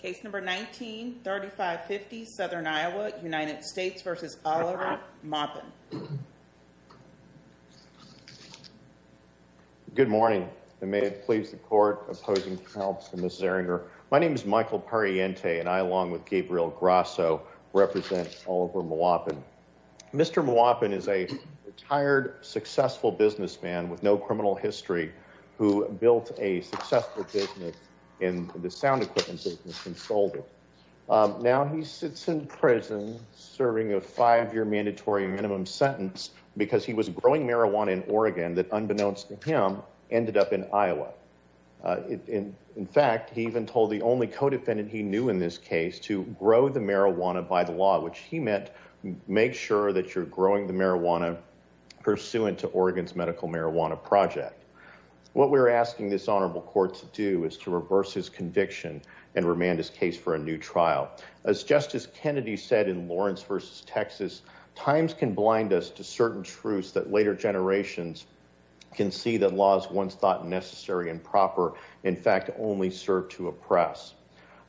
Case number 19-3550, Southern Iowa, United States v. Oliver Maupin. Good morning and may it please the court, opposing counsel Mrs. Erringer. My name is Michael Pariente and I along with Gabriel Grasso represent Oliver Maupin. Mr. Maupin is a retired, successful businessman with no criminal history who built a successful business in the sound and sold it. Now he sits in prison serving a five-year mandatory minimum sentence because he was growing marijuana in Oregon that unbeknownst to him ended up in Iowa. In fact, he even told the only co-defendant he knew in this case to grow the marijuana by the law, which he meant make sure that you're growing the marijuana pursuant to Oregon's medical marijuana project. What we're asking this honorable court to do is to reverse his conviction and remand his case for a new trial. As Justice Kennedy said in Lawrence v. Texas, times can blind us to certain truths that later generations can see that laws once thought necessary and proper in fact only serve to oppress.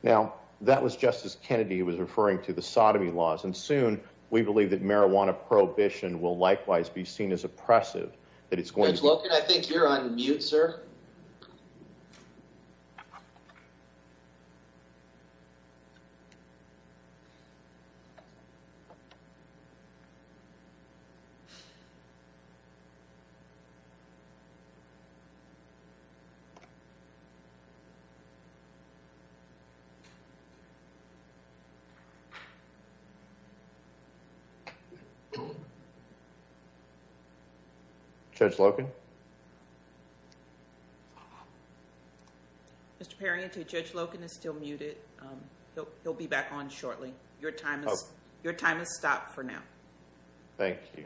Now that was Justice Kennedy who was referring to the sodomy laws and soon we believe that marijuana prohibition will likewise be seen as oppressive. Judge Wilkin, I think you're on mute, sir. Judge Wilkin? Mr. Perry, I think Judge Wilkin is still muted. He'll be back on shortly. Your time has stopped for now. Thank you.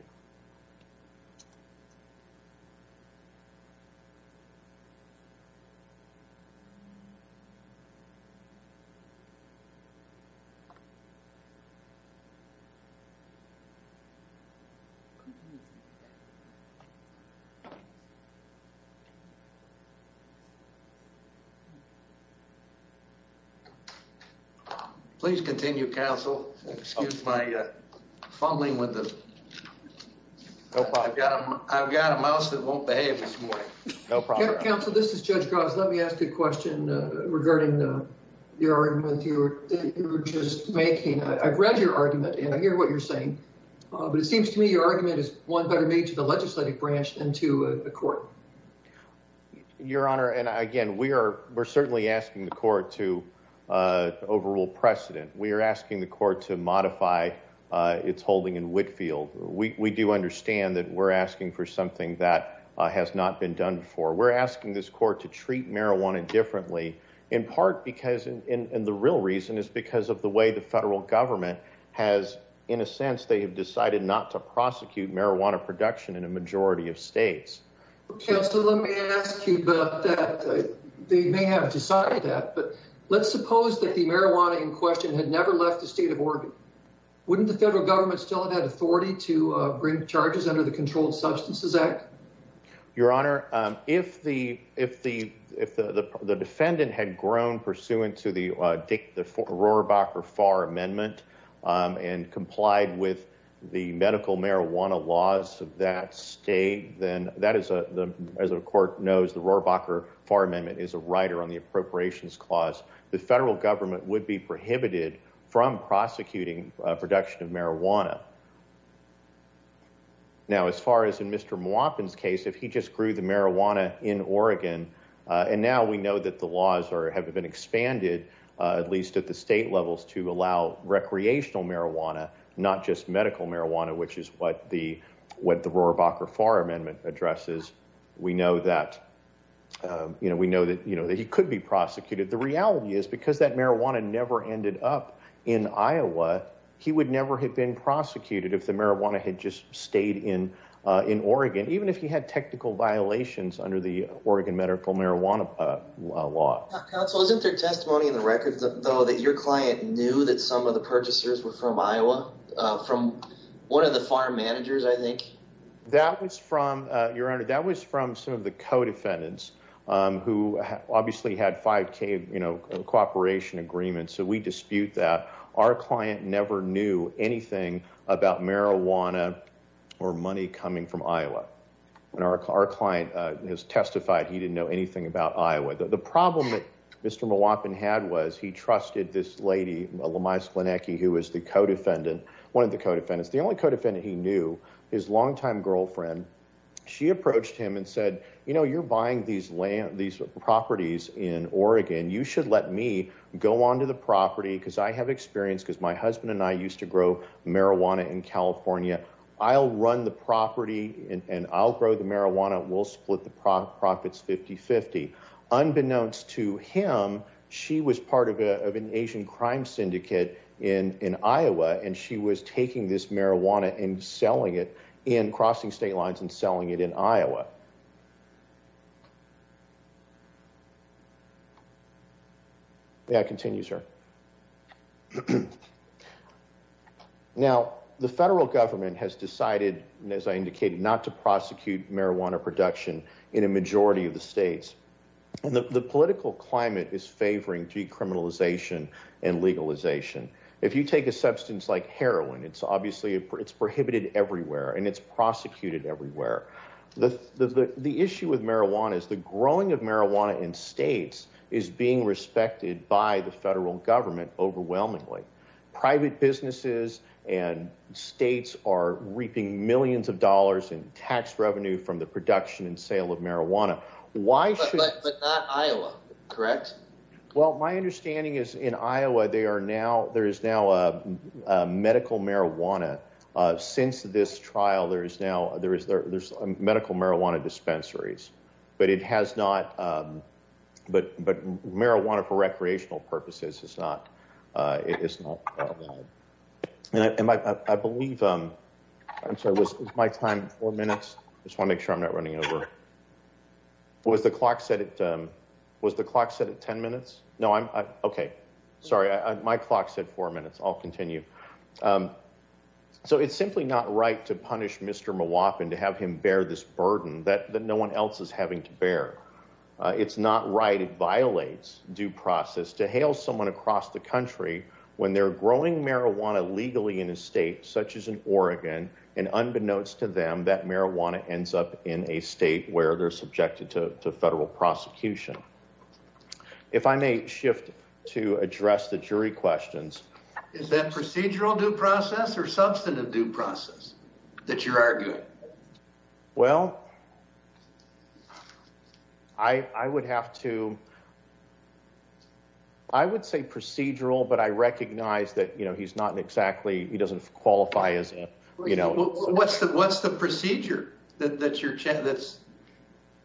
I've got a mouse that won't behave this morning. No problem. Counsel, this is Judge Gross. Let me ask a question regarding your argument you were just making. I've read your argument and I hear what you're saying, but it seems to me your argument is one better made to the legislative branch than to the court. Your Honor, and again, we're certainly asking the court to overrule precedent. We are asking the court to modify its holding in Whitfield. We do understand that we're asking for something that has not been done before. We're asking this court to treat marijuana differently, in part because, and the real reason is because of the way the federal government has, in a sense, they have decided not to prosecute marijuana production in a majority of states. Counsel, let me ask you about that. They may have decided that, but let's suppose that the marijuana in question had never left the state of Oregon. Wouldn't the federal government still have had authority to bring charges under the Controlled Substances Act? Your Honor, if the defendant had grown pursuant to the Rohrabacher Far Amendment and complied with the medical marijuana laws of that state, then that is, as the court knows, the Rohrabacher Far Amendment is a rider on the Appropriations Clause. The federal government would be prohibited from prosecuting production of marijuana. Now, as far as in Mr. Mwapin's case, if he just grew the marijuana in Oregon, and now we know that the laws have been expanded, at least at the state levels, to allow recreational marijuana, not just medical marijuana, which is what the Rohrabacher Far Amendment addresses. We know that he could be prosecuted. The reality is, because that marijuana never ended up in Iowa, he would have never been prosecuted if the marijuana had just stayed in Oregon, even if he had technical violations under the Oregon medical marijuana law. Counsel, isn't there testimony in the record, though, that your client knew that some of the purchasers were from Iowa, from one of the farm managers, I think? That was from, Your Honor, that was from some of the co-defendants, who obviously had 5K cooperation agreements, so we dispute that. Our client never knew anything about marijuana or money coming from Iowa. Our client has testified he didn't know anything about Iowa. The problem that Mr. Mwapin had was he trusted this lady, Lamia Sklenecki, who was the co-defendant, one of the co-defendants. The only co-defendant he knew, his longtime girlfriend, she approached him and said, you know, you're buying these properties in Oregon. You should let me go onto the property, because I have experience, because my husband and I used to grow marijuana in California. I'll run the property, and I'll grow the marijuana. We'll split the profits 50-50. Unbeknownst to him, she was part of an Asian crime syndicate in Iowa, and she was taking this marijuana and selling it in, crossing state of Iowa. Yeah, continue, sir. Now, the federal government has decided, as I indicated, not to prosecute marijuana production in a majority of the states. The political climate is favoring decriminalization and legalization. If you take a substance like heroin, it's obviously, it's prohibited everywhere, and it's prosecuted everywhere. The issue with marijuana is the growing of marijuana in states is being respected by the federal government overwhelmingly. Private businesses and states are reaping millions of dollars in tax revenue from the production and sale of marijuana. But not Iowa, correct? Well, my understanding is in Iowa, there is now a medical marijuana, since this trial, there is now, there's medical marijuana dispensaries, but it has not, but marijuana for recreational purposes is not, it is not allowed. And I believe, I'm sorry, was my time four minutes? I just want to make sure I'm not running over. Was the clock set at, was the clock set at 10 minutes? No, I'm, okay, sorry, my clock said four minutes, I'll continue. So it's simply not right to punish Mr. Mwopin to have him bear this burden that no one else is having to bear. It's not right, it violates due process to hail someone across the country when they're growing marijuana legally in a state such as in Oregon, and unbeknownst to them, that marijuana ends up in a state where they're subjected to federal prosecution. If I may shift to address the jury questions. Is that procedural due process or substantive due process that you're arguing? Well, I would have to, I would say procedural, but I recognize that, you know, he's not exactly, he doesn't qualify as, you know, what's the, what's the procedure that you're, that's,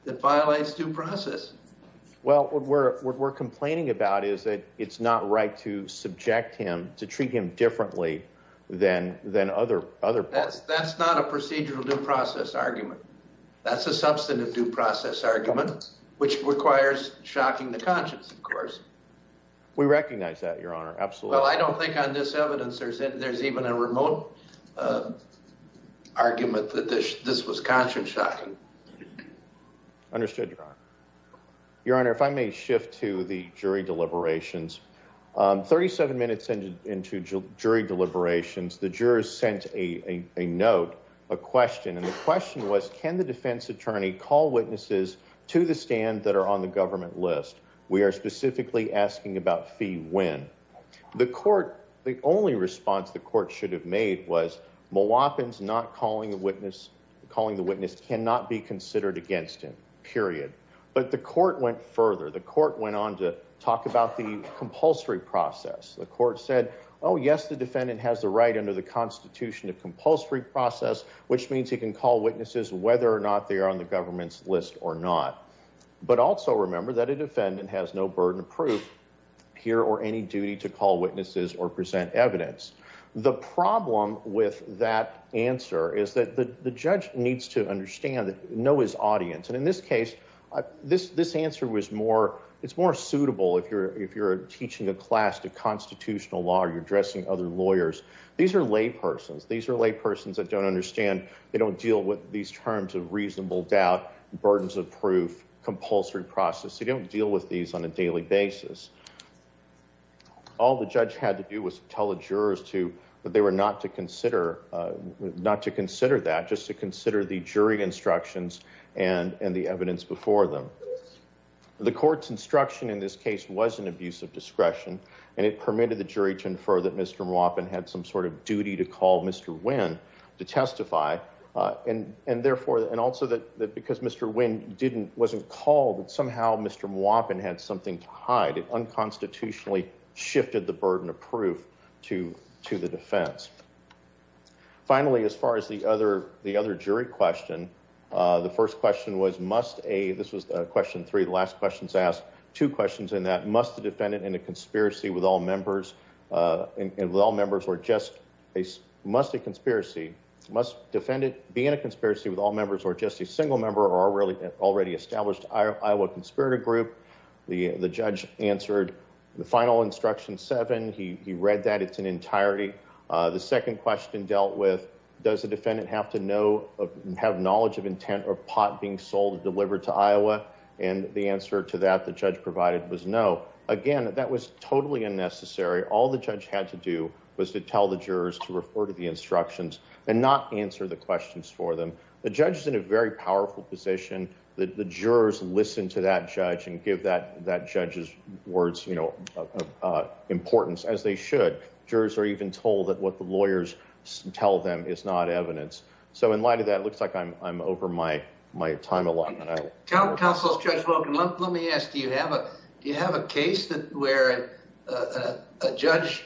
that violates due process? Well, what we're, what we're complaining about is that it's not right to subject him to treat him differently than, than other, other. That's, that's not a procedural due process argument. That's a substantive due process argument, which requires shocking the conscience, of course. We recognize that, Your Honor, absolutely. Well, I don't think on this evidence there's, there's even a remote argument that this was conscience shocking. Understood, Your Honor. Your Honor, if I may shift to the jury deliberations. 37 minutes into jury deliberations, the jurors sent a note, a question, and the question was, can the defense attorney call witnesses to the stand that are on the government list? We are specifically asking about fee when. The court, the only response the court should have made was Mlwapen's not calling a witness, calling the witness cannot be considered against him, period. But the court went further. The court went on to talk about the compulsory process. The court said, oh yes, the defendant has the right under the constitution of compulsory process, which means he can call witnesses whether or not they are on the government's list or not. But also remember that a defendant has no burden of proof here or any duty to call witnesses or present evidence. The problem with that answer is that the judge needs to understand that, know his audience. And in this case, this, this answer was more, it's more suitable. If you're, if you're teaching a class to constitutional law, you're addressing other lawyers. These are lay persons. These are lay persons that don't understand. They don't deal with these terms of reasonable doubt, burdens of proof, compulsory process. They don't deal with these on a daily basis. All the judge had to do was tell the jurors to, but they were not to consider, not to consider that just to consider the jury instructions and, and the evidence before them. The court's instruction in this case was an abuse of discretion and it permitted the jury to therefore, and also that, that because Mr. Wynn didn't, wasn't called that somehow Mr. Mwopin had something to hide. It unconstitutionally shifted the burden of proof to, to the defense. Finally, as far as the other, the other jury question, the first question was, must a, this was a question three, the last questions asked two questions in that must the defendant in a conspiracy with all members and with all members or just a must a conspiracy, must defendant be in a conspiracy with all members or just a single member or already, already established Iowa conspirator group? The, the judge answered the final instruction seven. He, he read that it's an entirety. The second question dealt with, does the defendant have to know, have knowledge of intent or pot being sold and delivered to Iowa? And the answer to that, the judge provided was no. Again, that was totally unnecessary. All the judge had to do was to tell the jurors to refer to the instructions and not answer the questions for them. The judge is in a very powerful position that the jurors listen to that judge and give that, that judge's words, you know, uh, importance as they should. Jurors are even told that what the lawyers tell them is not evidence. So in light of that, it looks like I'm, I'm over my, my time alone. Counsel's judge Logan lump. Let me ask, do you have a, do you have a case that where a judge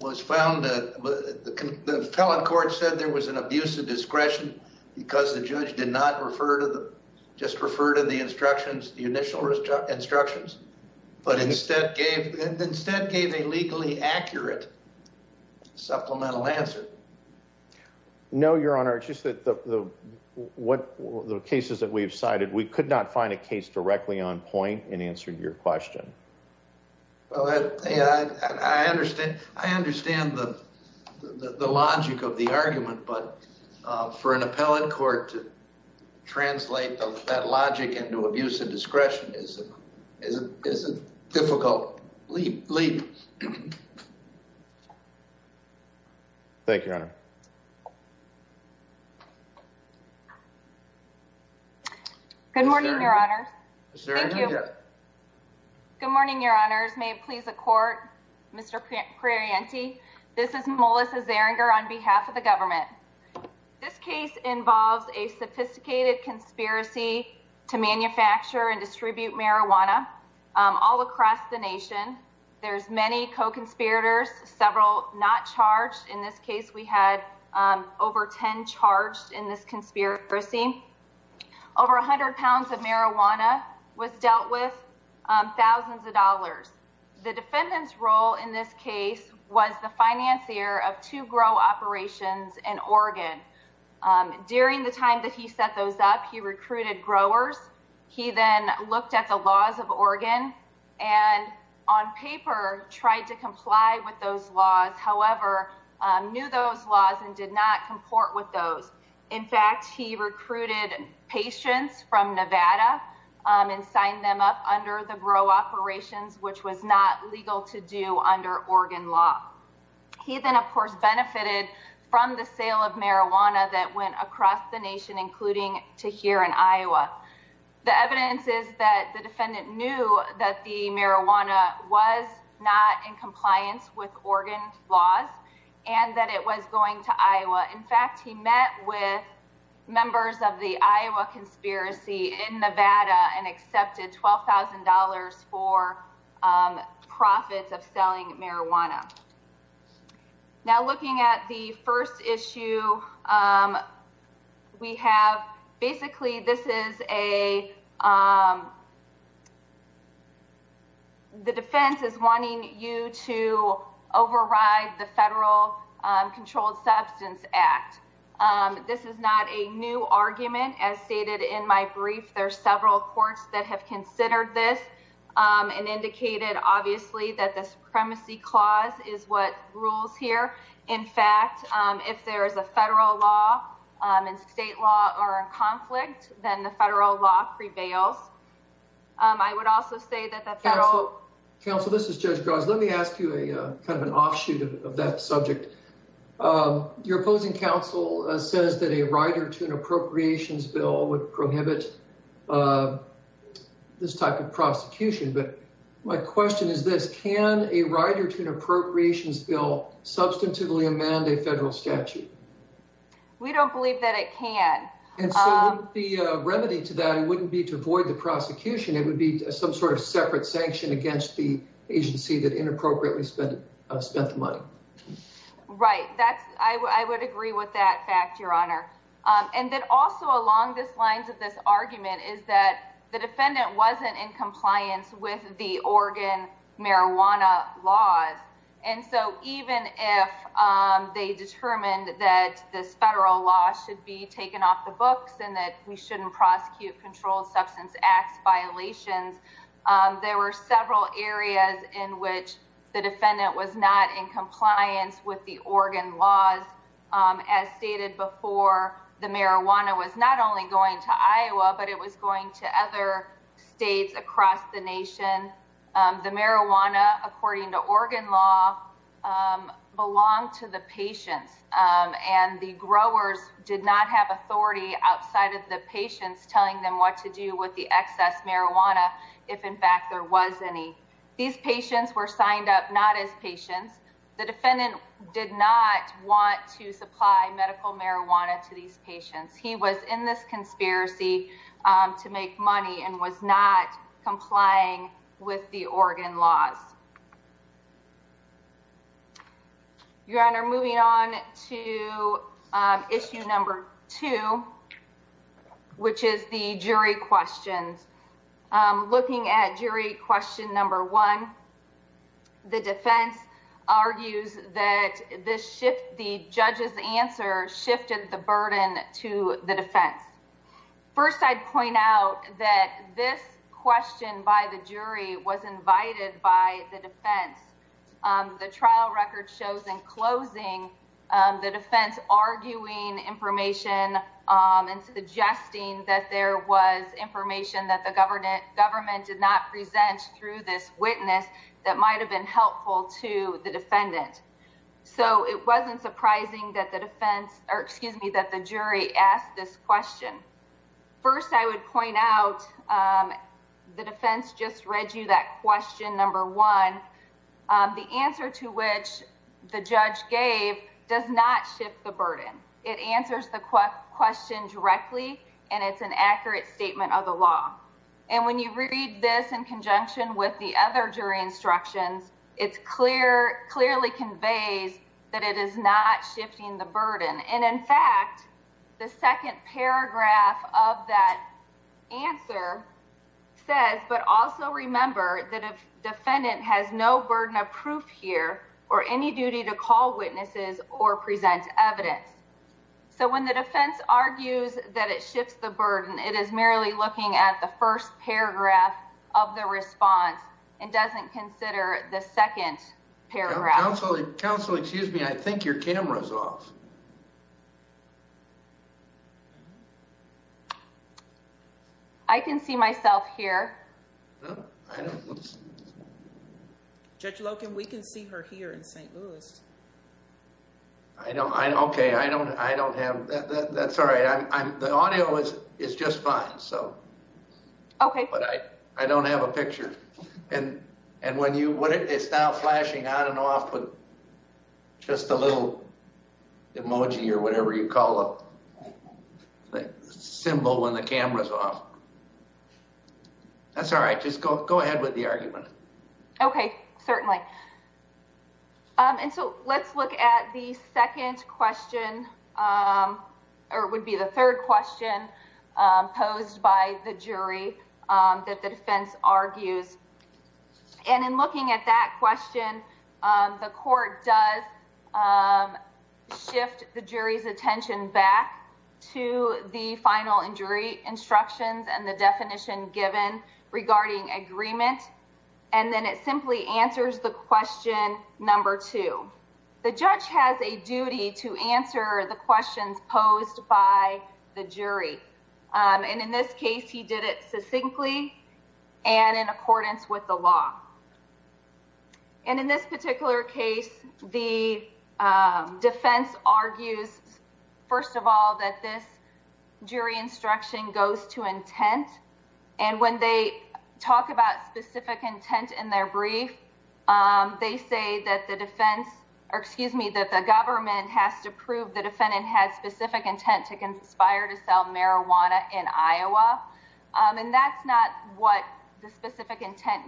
was found that the felon court said there was an abuse of discretion because the judge did not refer to the, just refer to the instructions, the initial instructions, but instead gave, instead gave a legally accurate supplemental answer. No, your honor. It's just that the, the, what the cases that we've cited, we could not find a case directly on point and answered your question. Well, I, I understand, I understand the, the, the logic of the argument, but, uh, for an appellate court to translate that logic into abuse of discretion is, is a difficult leap. Thank you, your honor. Good morning, your honors. Thank you. Good morning, your honors. May it please the court, Mr. Pratt. This is Melissa Zerringer on behalf of the government. This case involves a sophisticated conspiracy to manufacture and distribute marijuana. Um, all across the nation. There's many co-conspirators, several not charged. In this case, we had, um, over 10 charged in this conspiracy. Over a hundred pounds of marijuana was dealt with, um, thousands of dollars. The defendant's role in this case was the financier of two grow operations in Oregon. Um, during the time that he set those up, he recruited growers. He then looked at the laws of Oregon and on paper, tried to comply with those laws. However, um, knew those laws and did not comport with those. In fact, he recruited patients from Nevada, um, and signed them up under the grow operations, which was not legal to do under Oregon law. He then of course, benefited from the sale of marijuana that went across the nation, including to here in Iowa. The evidence is that the defendant knew that the marijuana was not in compliance with Oregon laws and that it was going to Iowa. In fact, he met with members of the Iowa conspiracy in Nevada and accepted $12,000 for, um, profits of selling marijuana. Now looking at the first issue, um, we have basically, this is a, um, the defense is wanting you to override the federal, um, controlled substance act. Um, this is not a new argument as stated in my brief. There are several courts that have considered this, um, and indicated obviously that the supremacy clause is what rules here. In fact, um, if there is a federal law, um, and state law are in conflict, then the federal law prevails. Um, I would also say that the federal counsel, this is judge Gross. Let me ask you a kind of an offshoot of that subject. Um, your opposing counsel says that a writer to an appropriations bill would prohibit, uh, this type of prosecution. But my question is this, can a writer to an statute? We don't believe that it can be a remedy to that. It wouldn't be to avoid the prosecution. It would be some sort of separate sanction against the agency that inappropriately spent, uh, spent the money. Right. That's I w I would agree with that fact, your honor. Um, and then also along this lines of this argument is that the defendant wasn't in compliance with the Oregon marijuana laws. And so even if, um, they determined that this federal law should be taken off the books and that we shouldn't prosecute controlled substance acts violations. Um, there were several areas in which the defendant was not in compliance with the Oregon laws, um, as stated before the marijuana was not only going to Iowa, but it was going to other States across the nation. Um, the marijuana, according to Oregon law, um, belong to the patients. Um, and the growers did not have authority outside of the patients telling them what to do with the excess marijuana. If in fact there was any, these patients were signed up, not as patients. The defendant did not want to supply medical marijuana to these patients. He was in this conspiracy, um, to make money and was not complying with the Oregon laws. Your honor, moving on to issue number two, which is the jury questions. Um, looking at jury question number one, the defense argues that this shift, the judge's answer shifted the burden to the defense. First, I'd point out that this question by the jury was invited by the defense. Um, the trial record shows in closing, um, the defense arguing information, um, and suggesting that there was information that the government government did not present through this witness that might've been helpful to the defendant. So it wasn't surprising that the defense, or excuse me, that the jury asked this question. First, I would point out, um, the defense just read you that question. Number one, um, the answer to which the judge gave does not shift the burden. It answers the question directly, and it's an accurate statement of the law. And when you read this in conjunction with the other jury instructions, it's clear, clearly conveys that it is not shifting the burden. And in fact, the second paragraph of that answer says, but also remember that if defendant has no burden of proof here or any duty to call witnesses or present evidence. So when the defense argues that it shifts the burden, it is merely looking at the first paragraph of the response and doesn't consider the second paragraph. Counselor, excuse me. I think your camera's off. I can see myself here. I don't judge Logan. We can see her here in St. Louis. I don't, I don't, okay. I don't, I don't have that. That's all right. I'm the audio is, is just fine. So, okay. But I, I don't have a picture and, and when you, what it is now flashing on and off with just a little emoji or whatever you call a symbol when the camera's off. That's all right. Just go, go ahead with the argument. Okay, certainly. And so let's look at the second question or it would be the third question posed by the jury that the defense argues. And in looking at that question the court does shift the jury's attention back to the final injury instructions and the definition given regarding agreement. And then it simply answers the question number two. The judge has a duty to answer the questions posed by the jury. And in this case he did it succinctly and in accordance with the law. And in this particular case, the defense argues, first of all, that this jury instruction goes to intent. And when they talk about specific intent in their brief, they say that the defense, or excuse me, that the government has to prove the defendant had specific intent to conspire to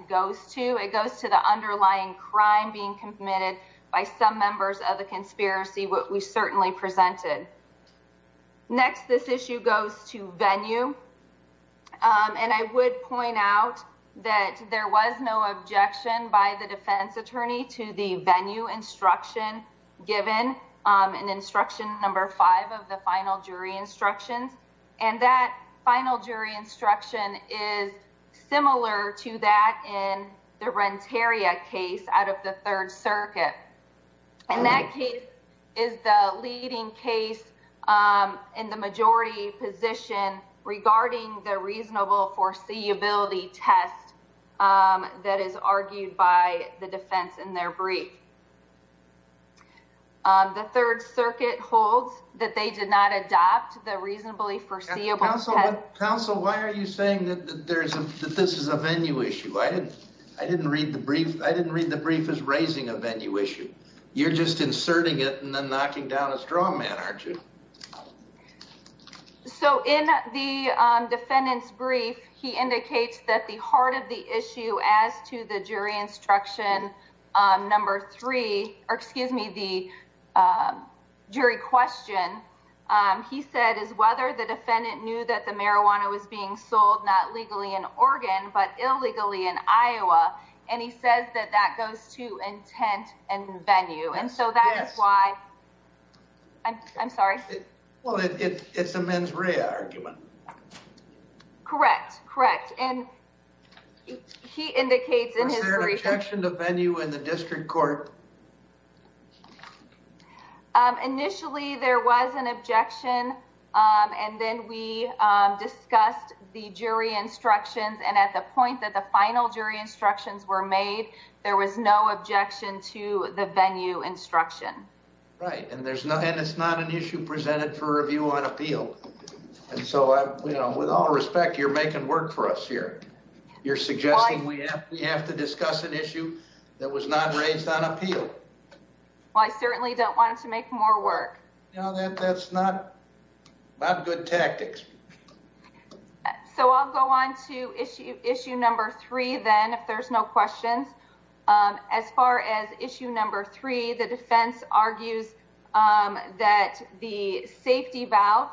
goes to. It goes to the underlying crime being committed by some members of the conspiracy, what we certainly presented. Next, this issue goes to venue. And I would point out that there was no objection by the defense attorney to the venue instruction given in instruction number five of the final jury instructions. And that final jury instruction is similar to that in the Renteria case out of the Third Circuit. And that case is the leading case in the majority position regarding the reasonable foreseeability test that is argued by the defense in their brief. The Third Circuit holds that they did not adopt the reasonably foreseeable test. Counsel, why are you saying that this is a venue issue? I didn't read the brief as raising a venue issue. You're just inserting it and then knocking down a straw man, aren't you? So in the defendant's brief, he indicates that the heart of the issue as to the jury instruction number three, or excuse me, the jury question, he said is whether the defendant knew that the marijuana was being sold not legally in Oregon, but illegally in Iowa. And he says that that goes to intent and venue. And so that is why I'm sorry. Well, it's a mens rea argument. Correct. Correct. And he indicates in his brief. Was there an objection to venue in the district court? Initially, there was an objection. And then we discussed the jury instructions. And at the point that the final jury instructions were made, there was no objection to the venue instruction. Right. And it's not an issue presented for review on appeal. And so with all respect, you're making work for us here. You're suggesting we have to discuss an issue that was not raised on appeal. Well, I certainly don't want to make more work. No, that's not good tactics. So I'll go on to issue number three then, if there's no questions. As far as issue number three, the defense argues that the safety valve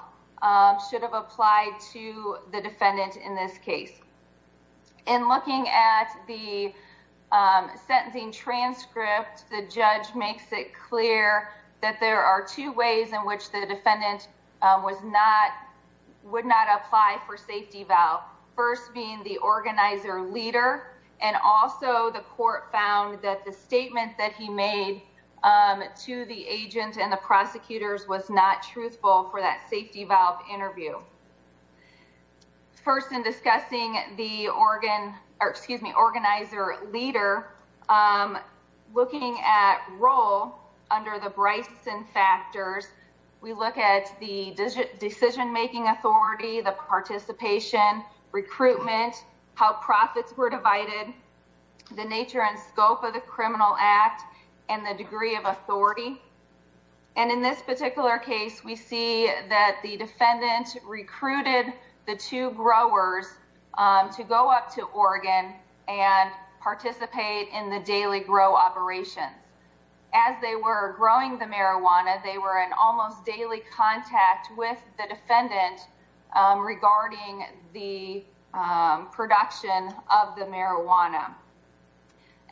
should have applied to the defendant in this case. In looking at the sentencing transcript, the judge makes it clear that there are two ways in which the defendant was not, would not apply for safety valve, first being the organizer leader. And also the court found that the statement that he made to the agent and the prosecutors was not truthful for that safety valve interview. First in discussing the organ, or excuse me, organizer leader, looking at role under the recruitment, how profits were divided, the nature and scope of the criminal act and the degree of authority. And in this particular case, we see that the defendant recruited the two growers to go up to Oregon and participate in the daily grow operations. As they were growing the marijuana, they were in almost daily contact with the defendant regarding the production of the marijuana.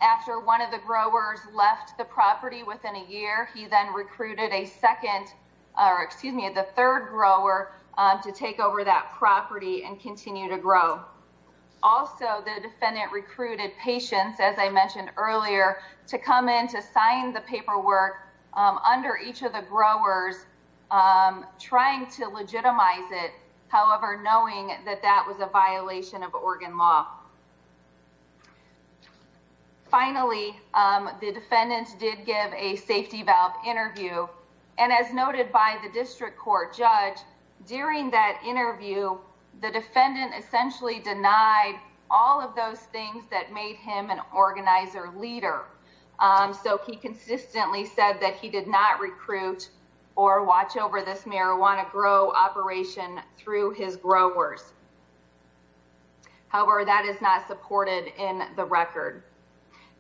After one of the growers left the property within a year, he then recruited a second, or excuse me, the third grower to take over that property and continue to grow. Also, the defendant recruited patients, as I mentioned earlier, to come in to however, knowing that that was a violation of Oregon law. Finally, the defendant did give a safety valve interview. And as noted by the district court judge during that interview, the defendant essentially denied all of those things that made him an organizer leader. So he consistently said that he did not recruit or watch over this through his growers. However, that is not supported in the record.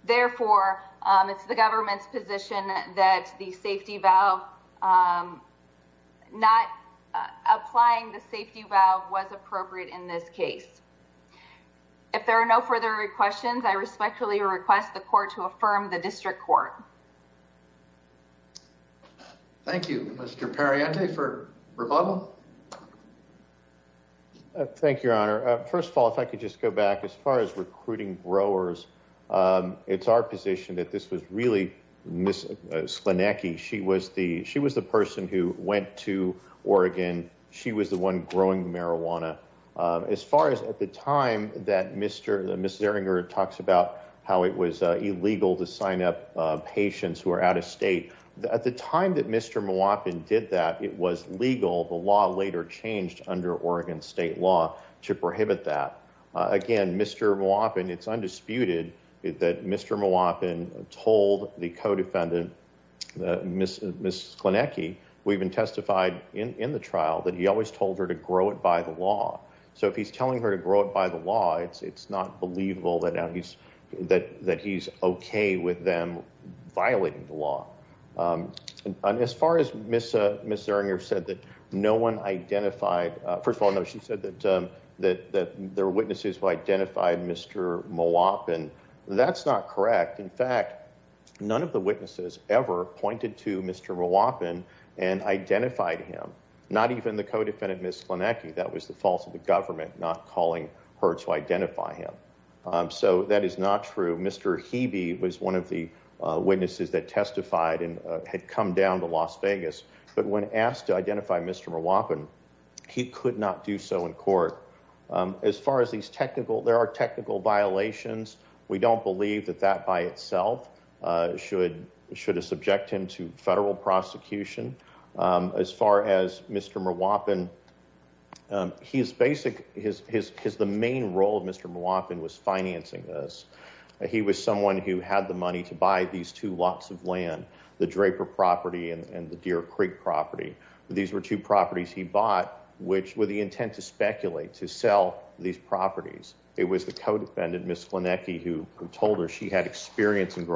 Therefore, it's the government's position that the safety valve, not applying the safety valve was appropriate in this case. If there are no further questions, I respectfully request the court to affirm the district court. Thank you, Mr. Perriente for rebuttal. Thank you, your honor. First of all, if I could just go back as far as recruiting growers, it's our position that this was really Ms. Slinecki. She was the person who went to Oregon. She was the one growing the marijuana. As far as at the time that Ms. Zieringer talks about how it was illegal to sign up patients who are out of state, at the time that Mr. Mwapin did that, it was legal. The law later changed under Oregon state law to prohibit that. Again, Mr. Mwapin, it's undisputed that Mr. Mwapin told the co-defendant, Ms. Slinecki, who even testified in the trial, that he always told her to grow it by the law. So if he's telling her to grow it by the law, it's not believable that he's okay with them violating the law. As far as Ms. Zieringer said that no one identified, first of all, no, she said that there were witnesses who identified Mr. Mwapin. That's not correct. In fact, none of the witnesses ever pointed to Mr. Mwapin and identified him, not even the co-defendant, that was the fault of the government, not calling her to identify him. So that is not true. Mr. Hebe was one of the witnesses that testified and had come down to Las Vegas, but when asked to identify Mr. Mwapin, he could not do so in court. As far as these technical, there are technical violations. We don't believe that that by itself should have subject him to federal prosecution. As far as Mr. Mwapin, his basic, his, his, his, the main role of Mr. Mwapin was financing this. He was someone who had the money to buy these two lots of land, the Draper property and the Deer Creek property. These were two properties he bought, which were the intent to speculate, to sell these properties. It was the co-defendant, Ms. Slinecki, who told her she had experience in to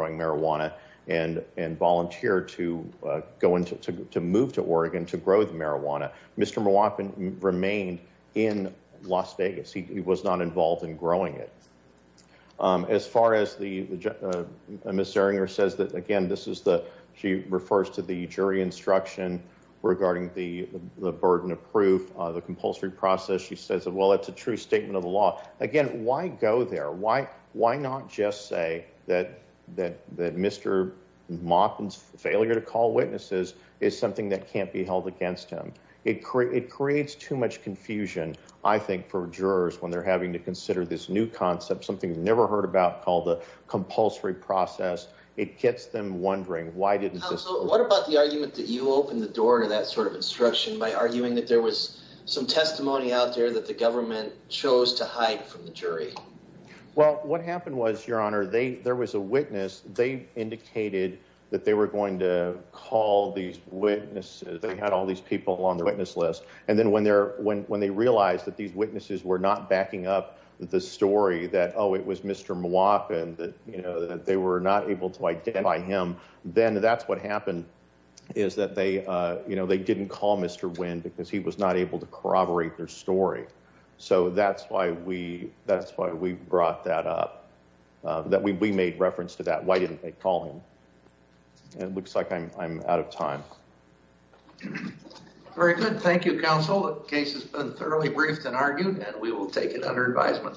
move to Oregon to grow the marijuana. Mr. Mwapin remained in Las Vegas. He was not involved in growing it. As far as the, Ms. Serringer says that, again, this is the, she refers to the jury instruction regarding the, the burden of proof, the compulsory process. She says, well, it's a true statement of the law. Again, why go there? Why, why not just say that, that, that Mr. Mwapin's ability to call witnesses is something that can't be held against him. It creates too much confusion, I think, for jurors when they're having to consider this new concept, something you've never heard about called the compulsory process. It gets them wondering why didn't this- What about the argument that you opened the door to that sort of instruction by arguing that there was some testimony out there that the government chose to hide from the jury? Well, what happened was, Your Honor, they, there was a witness. They indicated that they were going to call these witnesses. They had all these people on the witness list. And then when they're, when, when they realized that these witnesses were not backing up the story that, oh, it was Mr. Mwapin, that, you know, that they were not able to identify him, then that's what happened, is that they, you know, they didn't call Mr. Nguyen because he was not able to corroborate their story. So that's why we, that's why we brought that up, that we, we made reference to that. Why didn't they call him? And it looks like I'm, I'm out of time. Very good. Thank you, counsel. The case has been thoroughly briefed and argued, and we will take it under advisement.